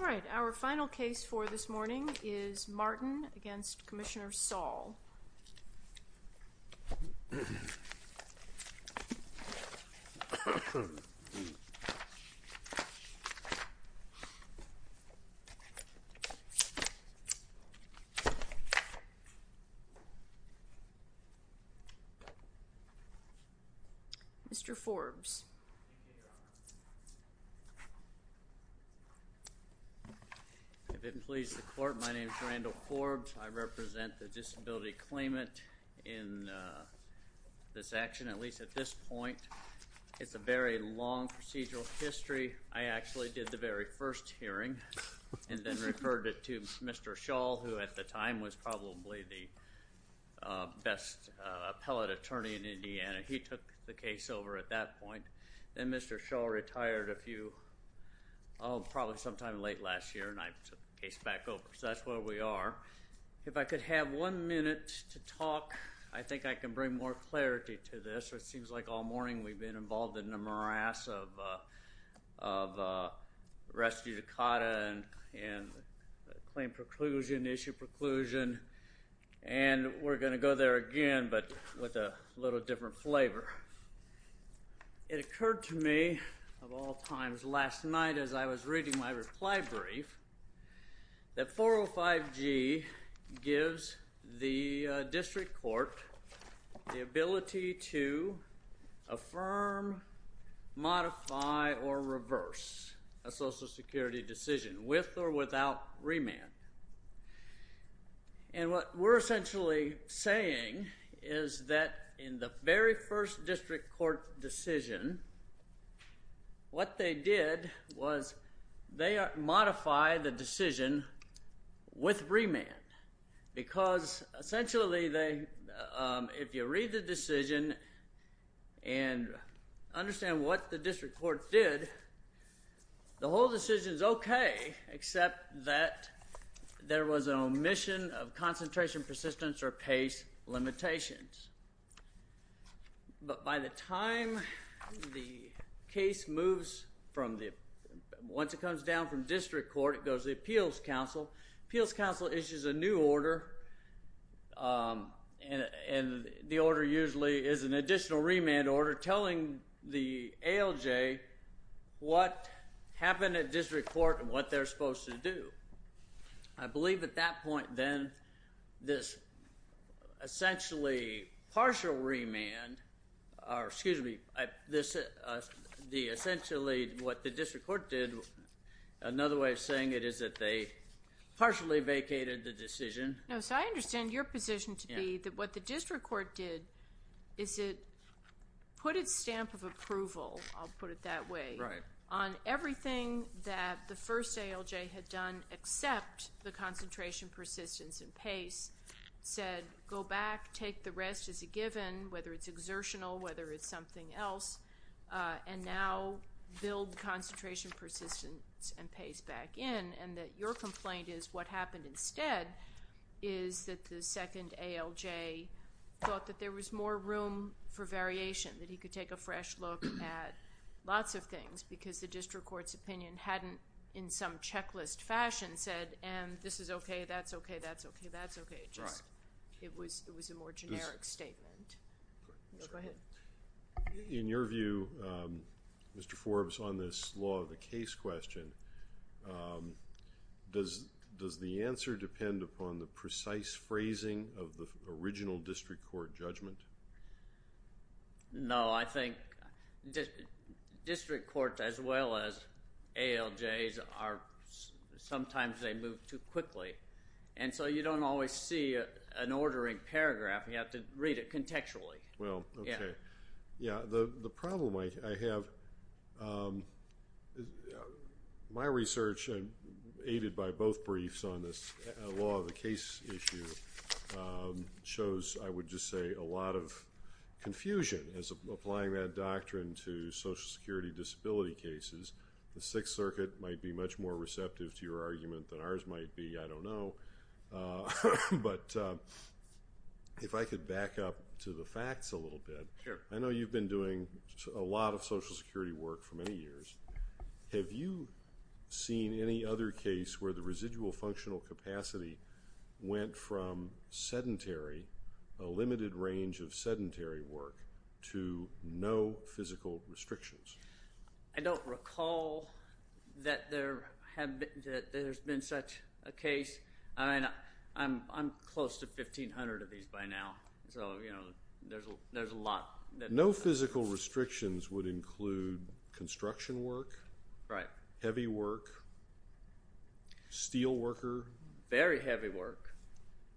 All right, our final case for this morning is Martin v. Commissioner Saul Mr. Forbes If it pleases the court, my name is Randall Forbes. I represent the disability claimant in this action, at least at this point. It's a very long procedural history. I actually did the very first hearing and then referred it to Mr. Schall, who at the time was probably the best appellate attorney in Indiana. He took the case over at that point. Then Mr. Schall retired a few, oh, probably sometime late last year, and I took the case back over. So that's where we are. If I could have one minute to talk, I think I can bring more clarity to this. It seems like all morning we've been involved in the morass of Rescue Dakota and claim preclusion, issue preclusion, and we're going to go there again, but with a little different flavor. It occurred to me of all times last night as I was reading my reply brief that 405G gives the district court the ability to affirm, modify, or reverse a Social Security decision with or without remand. And what we're essentially saying is that in the very first district court decision, what they did was they modified the decision with remand. Because essentially, if you read the decision and understand what the district court did, the whole decision is okay, except that there was an omission of concentration, persistence, or pace limitations. But by the time the case moves from the, once it comes down from district court, it goes to the appeals counsel. Appeals counsel issues a new order, and the order usually is an additional remand order telling the ALJ what happened at district court and what they're supposed to do. I believe at that point, then, this essentially partial remand, or excuse me, essentially what the district court did, another way of saying it is that they partially vacated the decision. No, so I understand your position to be that what the district court did is it put its stamp of approval, I'll put it that way, on everything that the first ALJ had done except the concentration, persistence, and pace, said go back, take the rest as a given, whether it's exertional, whether it's something else, and now build concentration, persistence, and pace back in, and that your complaint is what happened instead is that the second ALJ thought that there was more room for variation, that he could take a fresh look at lots of things because the district court's opinion hadn't, in some checklist fashion, said, and this is okay, that's okay, that's okay, that's okay. It was a more generic statement. In your view, Mr. Forbes, on this law of the case question, does the answer depend upon the precise phrasing of the original district court judgment? No, I think district courts, as well as ALJs, sometimes they move too quickly, and so you don't always see an ordering paragraph. You have to read it contextually. Well, okay. Yeah, the problem I have, my research, aided by both briefs on this law of the case issue, shows, I would just say, a lot of confusion as applying that doctrine to Social Security disability cases. The Sixth Circuit might be much more receptive to your argument than ours might be, I don't know, but if I could back up to the facts a little bit. Sure. I know you've been doing a lot of Social Security work for many years. Have you seen any other case where the residual functional capacity went from sedentary, a limited range of sedentary work, to no physical restrictions? I don't recall that there's been such a case. I mean, I'm close to 1,500 of these by now, so you know, there's a lot. No physical restrictions would include construction work, heavy work, steel worker. Very heavy work,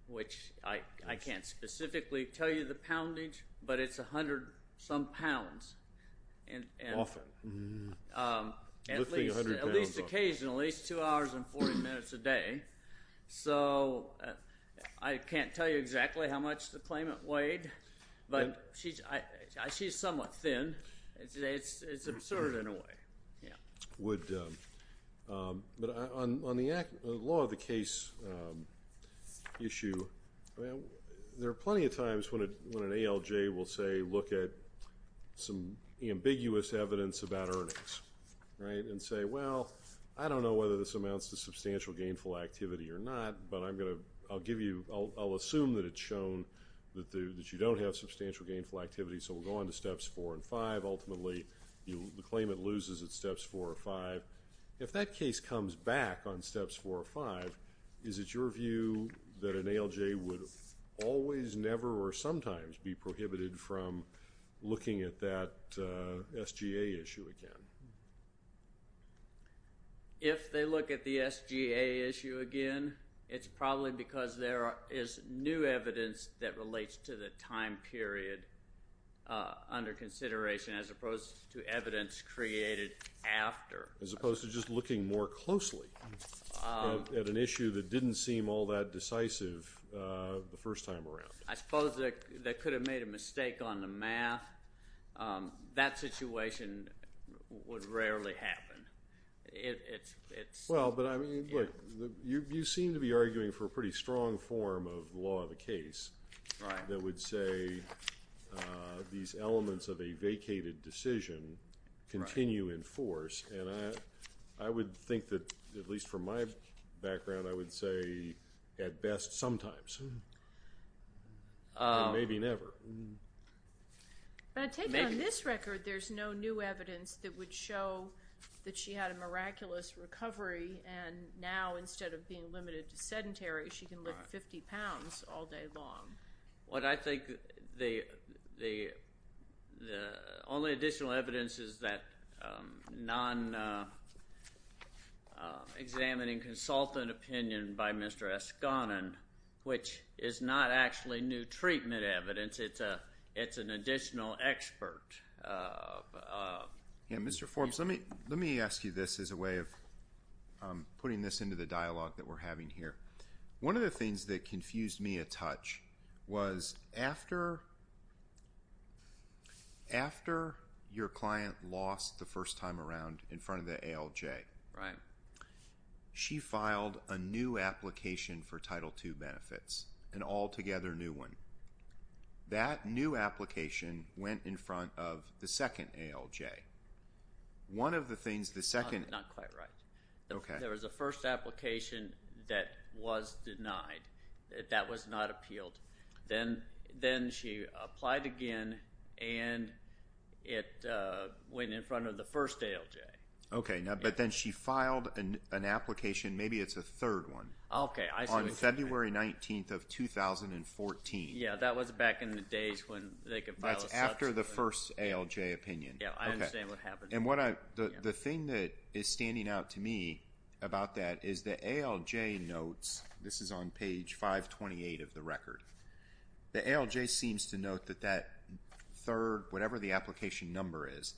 which I can't specifically tell you the poundage, but it's a hundred-some pounds, at least occasionally. It's two hours and 40 minutes a day, so I can't tell you exactly how much the claimant weighed, but she's somewhat thin. It's absurd in a way. But on the law of the case issue, there are plenty of times when an ALJ will say, look at some ambiguous evidence about earnings, and say, well, I don't know whether this amounts to substantial gainful activity or not, but I'll assume that it's shown that you don't have substantial gainful activity, so we'll go on to Steps 4 and 5. Ultimately, the claimant loses at Steps 4 or 5. If that case comes back on Steps 4 or 5, is it your view that an ALJ would always, never, or sometimes be prohibited from looking at that SGA issue again? If they look at the SGA issue again, it's probably because there is new evidence that came out of that time period under consideration, as opposed to evidence created after. As opposed to just looking more closely at an issue that didn't seem all that decisive the first time around. I suppose they could have made a mistake on the math. That situation would rarely happen. Well, but I mean, look, you seem to be arguing for a pretty strong form of the law of the these elements of a vacated decision continue in force, and I would think that, at least from my background, I would say, at best, sometimes, and maybe never. But I take it on this record, there's no new evidence that would show that she had a miraculous recovery, and now, instead of being limited to sedentary, she can live 50 pounds all day long. What I think the only additional evidence is that non-examining consultant opinion by Mr. Eskonen, which is not actually new treatment evidence, it's an additional expert. Yeah, Mr. Forbes, let me ask you this as a way of putting this into the dialogue that we're having here. One of the things that confused me a touch was, after your client lost the first time around in front of the ALJ, she filed a new application for Title II benefits, an altogether new one. That new application went in front of the second ALJ. One of the things the second— Not quite right. Okay. So, there was a first application that was denied, that was not appealed. Then she applied again, and it went in front of the first ALJ. Okay, but then she filed an application, maybe it's a third one, on February 19th of 2014. Yeah, that was back in the days when they could file a subsequent— That's after the first ALJ opinion. Yeah, I understand what happened. And the thing that is standing out to me about that is the ALJ notes, this is on page 528 of the record, the ALJ seems to note that that third, whatever the application number is,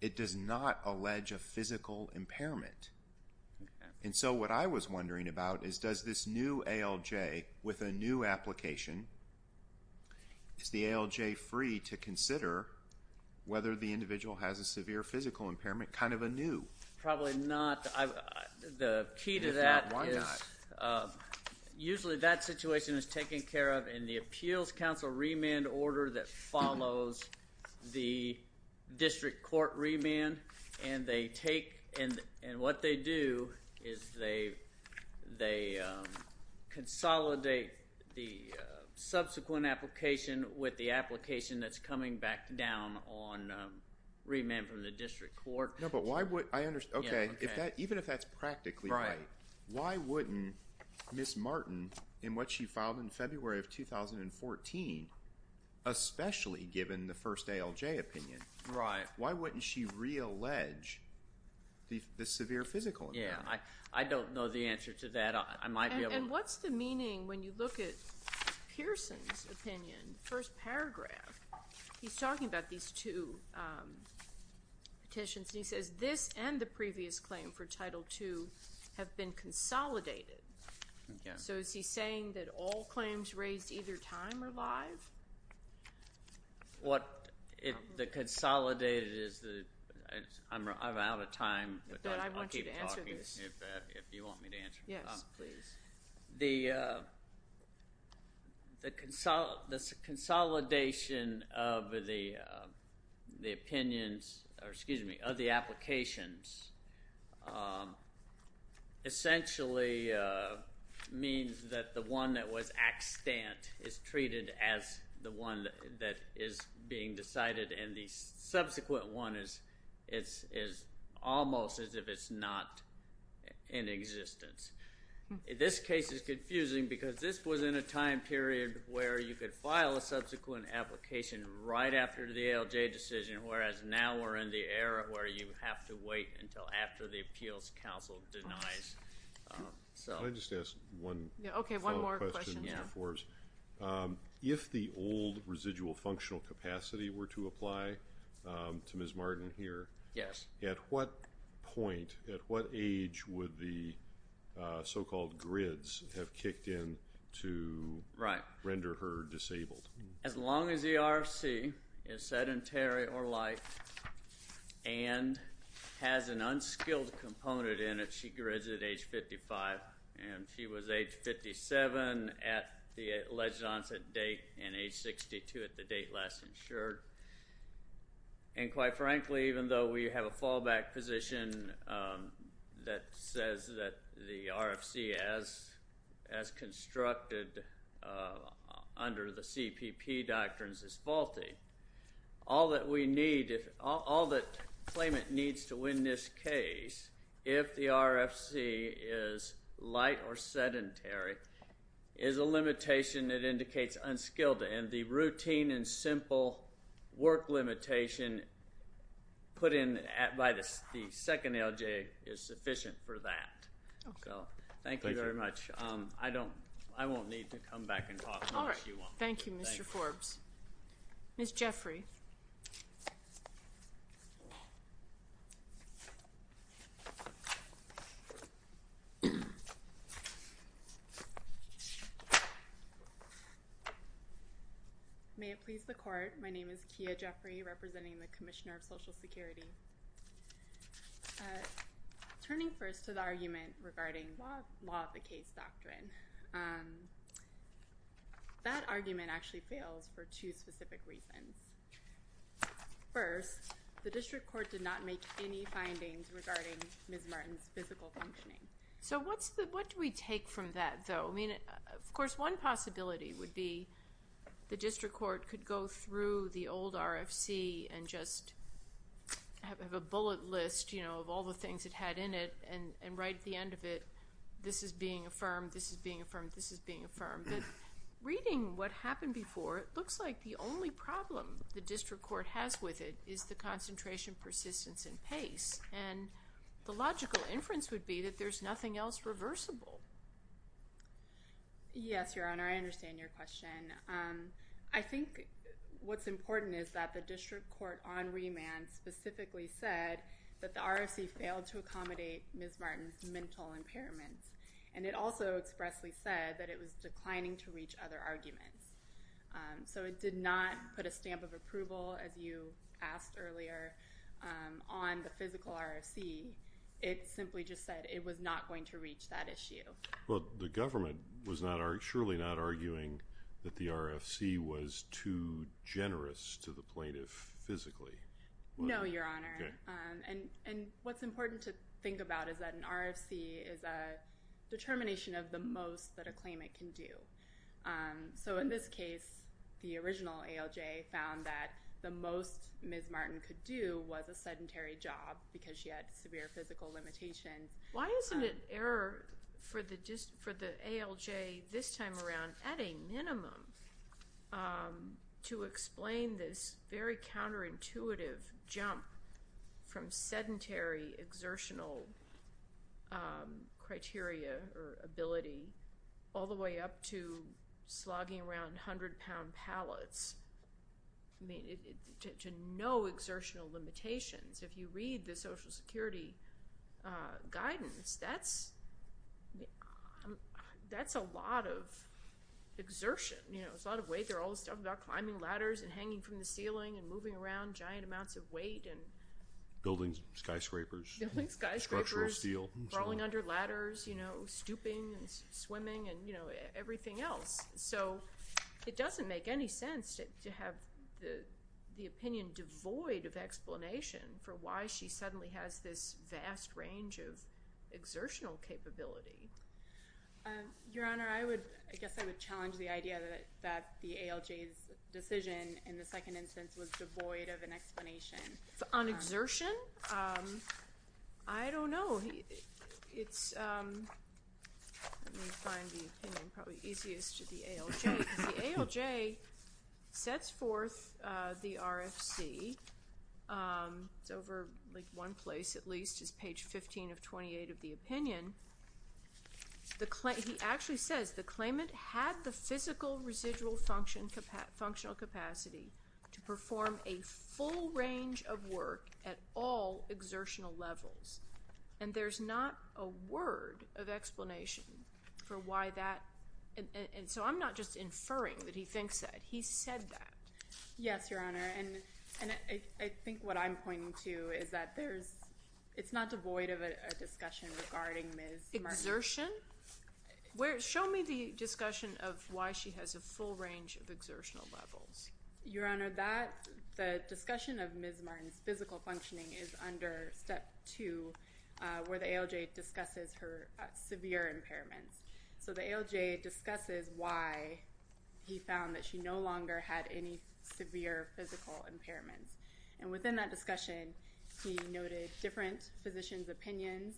it does not allege a physical impairment. And so, what I was wondering about is, does this new ALJ with a new application, is the physical impairment kind of anew? Probably not. The key to that is— If not, why not? Usually that situation is taken care of in the appeals council remand order that follows the district court remand, and they take—and what they do is they consolidate the subsequent application with the application that is coming back down on remand from the district court. No, but why would—I understand. Okay. Even if that is practically right, why wouldn't Ms. Martin, in what she filed in February of 2014, especially given the first ALJ opinion, why wouldn't she reallege the severe physical impairment? Yeah. I don't know the answer to that. I might be able to— And what's the meaning when you look at Pearson's opinion, first paragraph, he's talking about these two petitions, and he says, this and the previous claim for Title II have been consolidated. Okay. So, is he saying that all claims raised either time or live? What—the consolidated is the—I'm out of time, but I'll keep talking if you want me to answer this. Yes, please. The consolidation of the opinions—or, excuse me, of the applications essentially means that the one that was extant is treated as the one that is being decided, and the subsequent one is almost as if it's not in existence. This case is confusing because this was in a time period where you could file a subsequent application right after the ALJ decision, whereas now we're in the era where you have to wait until after the Appeals Council denies. So— Can I just ask one follow-up question, Mr. Forrest? Yeah. If the old residual functional capacity were to apply to Ms. Martin here— Yes. At what point, at what age would the so-called grids have kicked in to render her disabled? As long as the RFC is sedentary or light and has an unskilled component in it, she grids at age 55, and she was age 57 at the alleged onset date and age 62 at the date last insured. And quite frankly, even though we have a fallback position that says that the RFC, as constructed under the CPP doctrines, is faulty, all that we need—all that claimant needs to win this case, if the RFC is light or sedentary, is a limitation that indicates unskilled. And the routine and simple work limitation put in by the second ALJ is sufficient for that. Okay. Thank you very much. Pleasure. I don't—I won't need to come back and talk to you if you want me to. Thank you. All right. Thank you, Mr. Forbes. Ms. Jeffrey. May it please the Court, my name is Kia Jeffrey, representing the Commissioner of Social Security. Turning first to the argument regarding law of the case doctrine, that argument actually fails for two specific reasons. First, the District Court did not make any findings regarding Ms. Martin's physical functioning. So what's the—what do we take from that, though? I mean, of course, one possibility would be the District Court could go through the old RFC and just have a bullet list, you know, of all the things it had in it, and right at the end of it, this is being affirmed, this is being affirmed, this is being affirmed. But reading what happened before, it looks like the only problem the District Court has with it is the concentration, persistence, and pace. And the logical inference would be that there's nothing else reversible. Yes, Your Honor, I understand your question. I think what's important is that the District Court on remand specifically said that the RFC failed to accommodate Ms. Martin's mental impairments. And it also expressly said that it was declining to reach other arguments. So it did not put a stamp of approval, as you asked earlier, on the physical RFC. It simply just said it was not going to reach that issue. Well, the government was surely not arguing that the RFC was too generous to the plaintiff physically. No, Your Honor. And what's important to think about is that an RFC is a determination of the most that a claimant can do. So in this case, the original ALJ found that the most Ms. Martin could do was a sedentary job because she had severe physical limitations. Why isn't it error for the ALJ this time around, at a minimum, to explain this very counterintuitive jump from sedentary exertional criteria or ability all the way up to slogging around 100-pound pallets, to no exertional limitations? If you read the Social Security guidance, that's a lot of exertion, you know, it's a lot of weight. They're always talking about climbing ladders and hanging from the ceiling and moving around in giant amounts of weight and— Building skyscrapers. Building skyscrapers. Structural steel. Crawling under ladders, you know, stooping and swimming and, you know, everything else. So it doesn't make any sense to have the opinion devoid of explanation for why she suddenly has this vast range of exertional capability. Your Honor, I would—I guess I would challenge the idea that the ALJ's decision in the On exertion? I don't know. It's—let me find the opinion, probably easiest, to the ALJ, because the ALJ sets forth the RFC, it's over, like, one place at least, it's page 15 of 28 of the opinion. He actually says, the claimant had the physical residual functional capacity to perform a full range of work at all exertional levels. And there's not a word of explanation for why that—and so I'm not just inferring that he thinks that. He said that. Yes, Your Honor. And I think what I'm pointing to is that there's—it's not devoid of a discussion regarding Ms. Murphy. Exertion? Show me the discussion of why she has a full range of exertional levels. Your Honor, that—the discussion of Ms. Martin's physical functioning is under Step 2, where the ALJ discusses her severe impairments. So the ALJ discusses why he found that she no longer had any severe physical impairments. And within that discussion, he noted different physicians' opinions.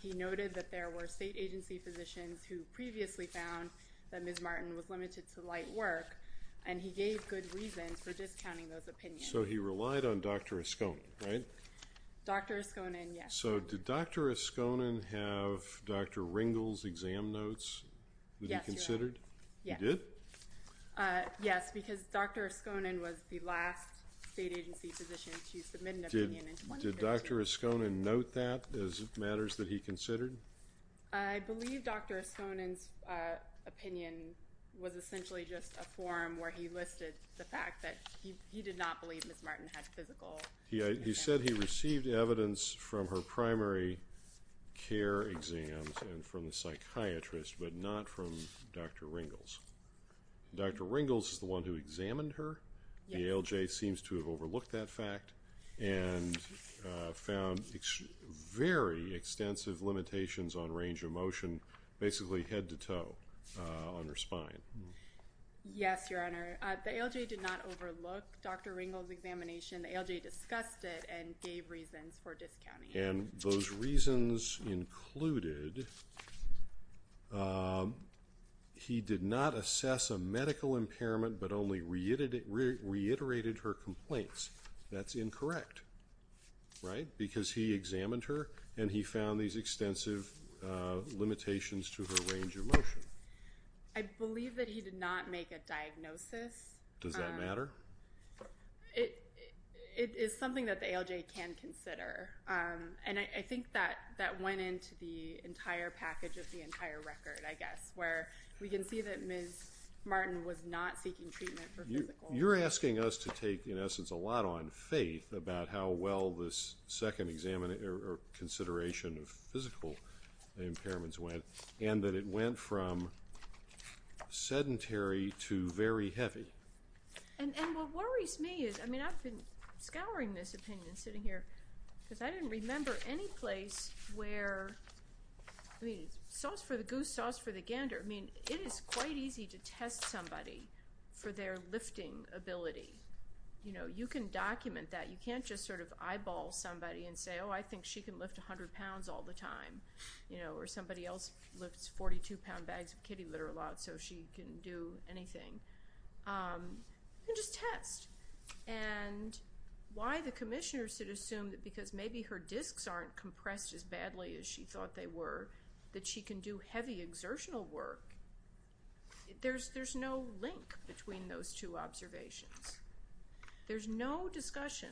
He noted that there were state agency physicians who previously found that Ms. Martin was limited to light work, and he gave good reasons for discounting those opinions. So he relied on Dr. Oskonan, right? Dr. Oskonan, yes. So did Dr. Oskonan have Dr. Ringel's exam notes that he considered? Yes, Your Honor. He did? Yes, because Dr. Oskonan was the last state agency physician to submit an opinion in 2013. Did Dr. Oskonan note that as matters that he considered? I believe Dr. Oskonan's opinion was essentially just a form where he listed the fact that he did not believe Ms. Martin had physical impairments. He said he received evidence from her primary care exams and from the psychiatrist, but not from Dr. Ringel's. Dr. Ringel's is the one who examined her. The ALJ seems to have overlooked that fact and found very extensive limitations on range of motion, basically head to toe on her spine. Yes, Your Honor. The ALJ did not overlook Dr. Ringel's examination. The ALJ discussed it and gave reasons for discounting it. And those reasons included he did not assess a medical impairment, but only reiterated her complaints. That's incorrect, right? Because he examined her and he found these extensive limitations to her range of motion. I believe that he did not make a diagnosis. Does that matter? It is something that the ALJ can consider. And I think that went into the entire package of the entire record, I guess, where we can see that Ms. Martin was not seeking treatment for physical impairments. You're asking us to take, in essence, a lot on faith about how well this second examination or consideration of physical impairments went, and that it went from sedentary to very heavy. And what worries me is, I mean, I've been scouring this opinion sitting here, because I didn't remember any place where, I mean, sauce for the goose, sauce for the gander. I mean, it is quite easy to test somebody for their lifting ability. You know, you can document that. You can't just sort of eyeball somebody and say, oh, I think she can lift 100 pounds all the time, you know, or somebody else lifts 42-pound bags of kitty litter a lot, so she can do anything. You can just test. And why the commissioner should assume that because maybe her discs aren't compressed as badly as she thought they were, that she can do heavy exertional work, there's no link between those two observations. There's no discussion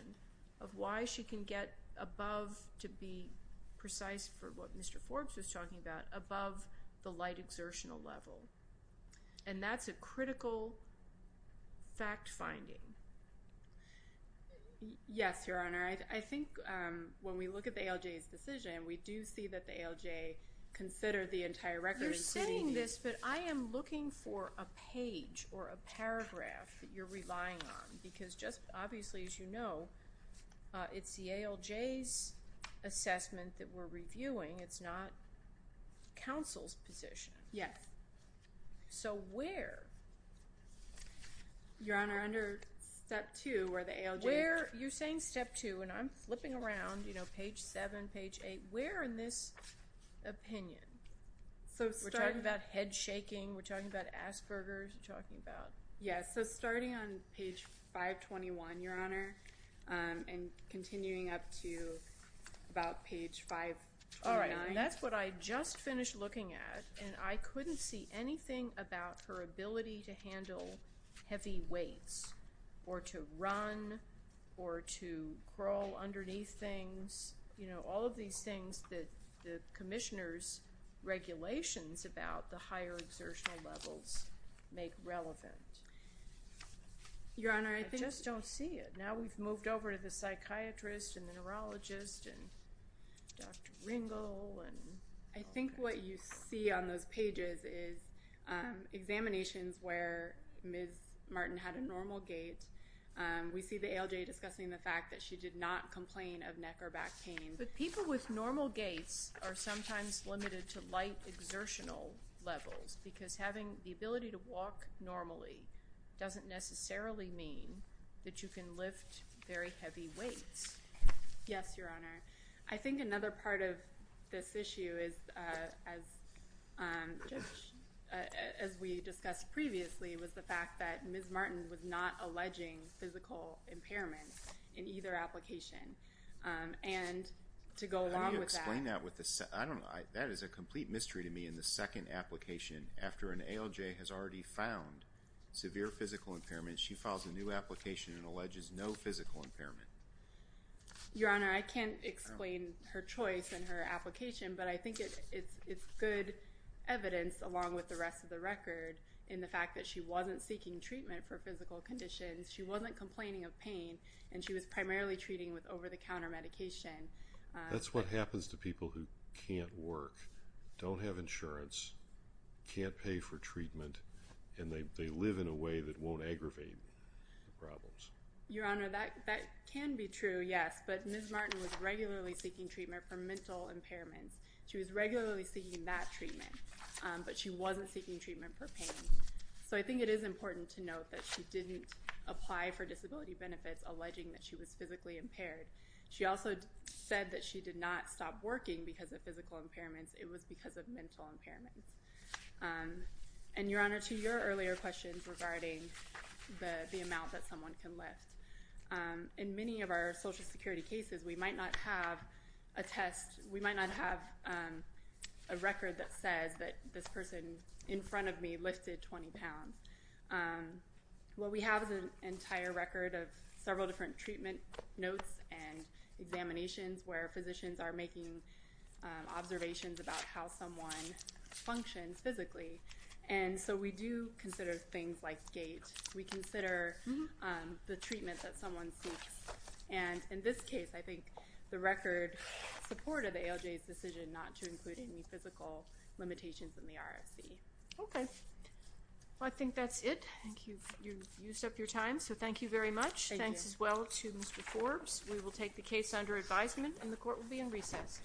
of why she can get above, to be precise for what Mr. Forbes was talking about, above the light exertional level. And that's a critical fact-finding. Yes, Your Honor. I think when we look at the ALJ's decision, we do see that the ALJ considered the entire record in proceeding. You're saying this, but I am looking for a page or a paragraph that you're relying on, because just obviously, as you know, it's the ALJ's assessment that we're reviewing. It's not counsel's position. Yes. So, where? Your Honor, under step two, where the ALJ... You're saying step two, and I'm flipping around, you know, page seven, page eight. Where in this opinion? We're talking about head shaking. We're talking about Asperger's. We're talking about... Yes. Right. And that's what I just finished looking at, and I couldn't see anything about her ability to handle heavy weights, or to run, or to crawl underneath things, you know, all of these things that the Commissioner's regulations about the higher exertional levels make relevant. Your Honor, I think... I just don't see it. Now we've moved over to the psychiatrist, and the neurologist, and Dr. Ringel, and... I think what you see on those pages is examinations where Ms. Martin had a normal gait. We see the ALJ discussing the fact that she did not complain of neck or back pain. But people with normal gaits are sometimes limited to light exertional levels, because having the ability to walk normally doesn't necessarily mean that you can lift very heavy weights. Yes, Your Honor. I think another part of this issue is, as we discussed previously, was the fact that Ms. Martin was not alleging physical impairment in either application. And to go along with that... Can you explain that with the... I don't know. That is a complete mystery to me in the second application, after an ALJ has already found severe physical impairment, she files a new application and alleges no physical impairment. Your Honor, I can't explain her choice in her application, but I think it's good evidence, along with the rest of the record, in the fact that she wasn't seeking treatment for physical conditions, she wasn't complaining of pain, and she was primarily treating with over-the-counter medication. That's what happens to people who can't work, don't have insurance, can't pay for treatment, and they live in a way that won't aggravate the problems. Your Honor, that can be true, yes, but Ms. Martin was regularly seeking treatment for mental impairments. She was regularly seeking that treatment, but she wasn't seeking treatment for pain. So I think it is important to note that she didn't apply for disability benefits alleging that she was physically impaired. She also said that she did not stop working because of physical impairments, it was because of mental impairments. And Your Honor, to your earlier questions regarding the amount that someone can lift, in many of our Social Security cases, we might not have a test, we might not have a record that says that this person in front of me lifted 20 pounds. What we have is an entire record of several different treatment notes and examinations where physicians are making observations about how someone functions physically. And so we do consider things like gait, we consider the treatment that someone seeks, and in this case, I think the record supported the ALJ's decision not to include any physical limitations in the RFC. Okay. Well, I think that's it. Thank you. You've used up your time, so thank you very much. Thank you. Thanks as well to Mr. Forbes. We will take the case under advisement and the court will be in recess.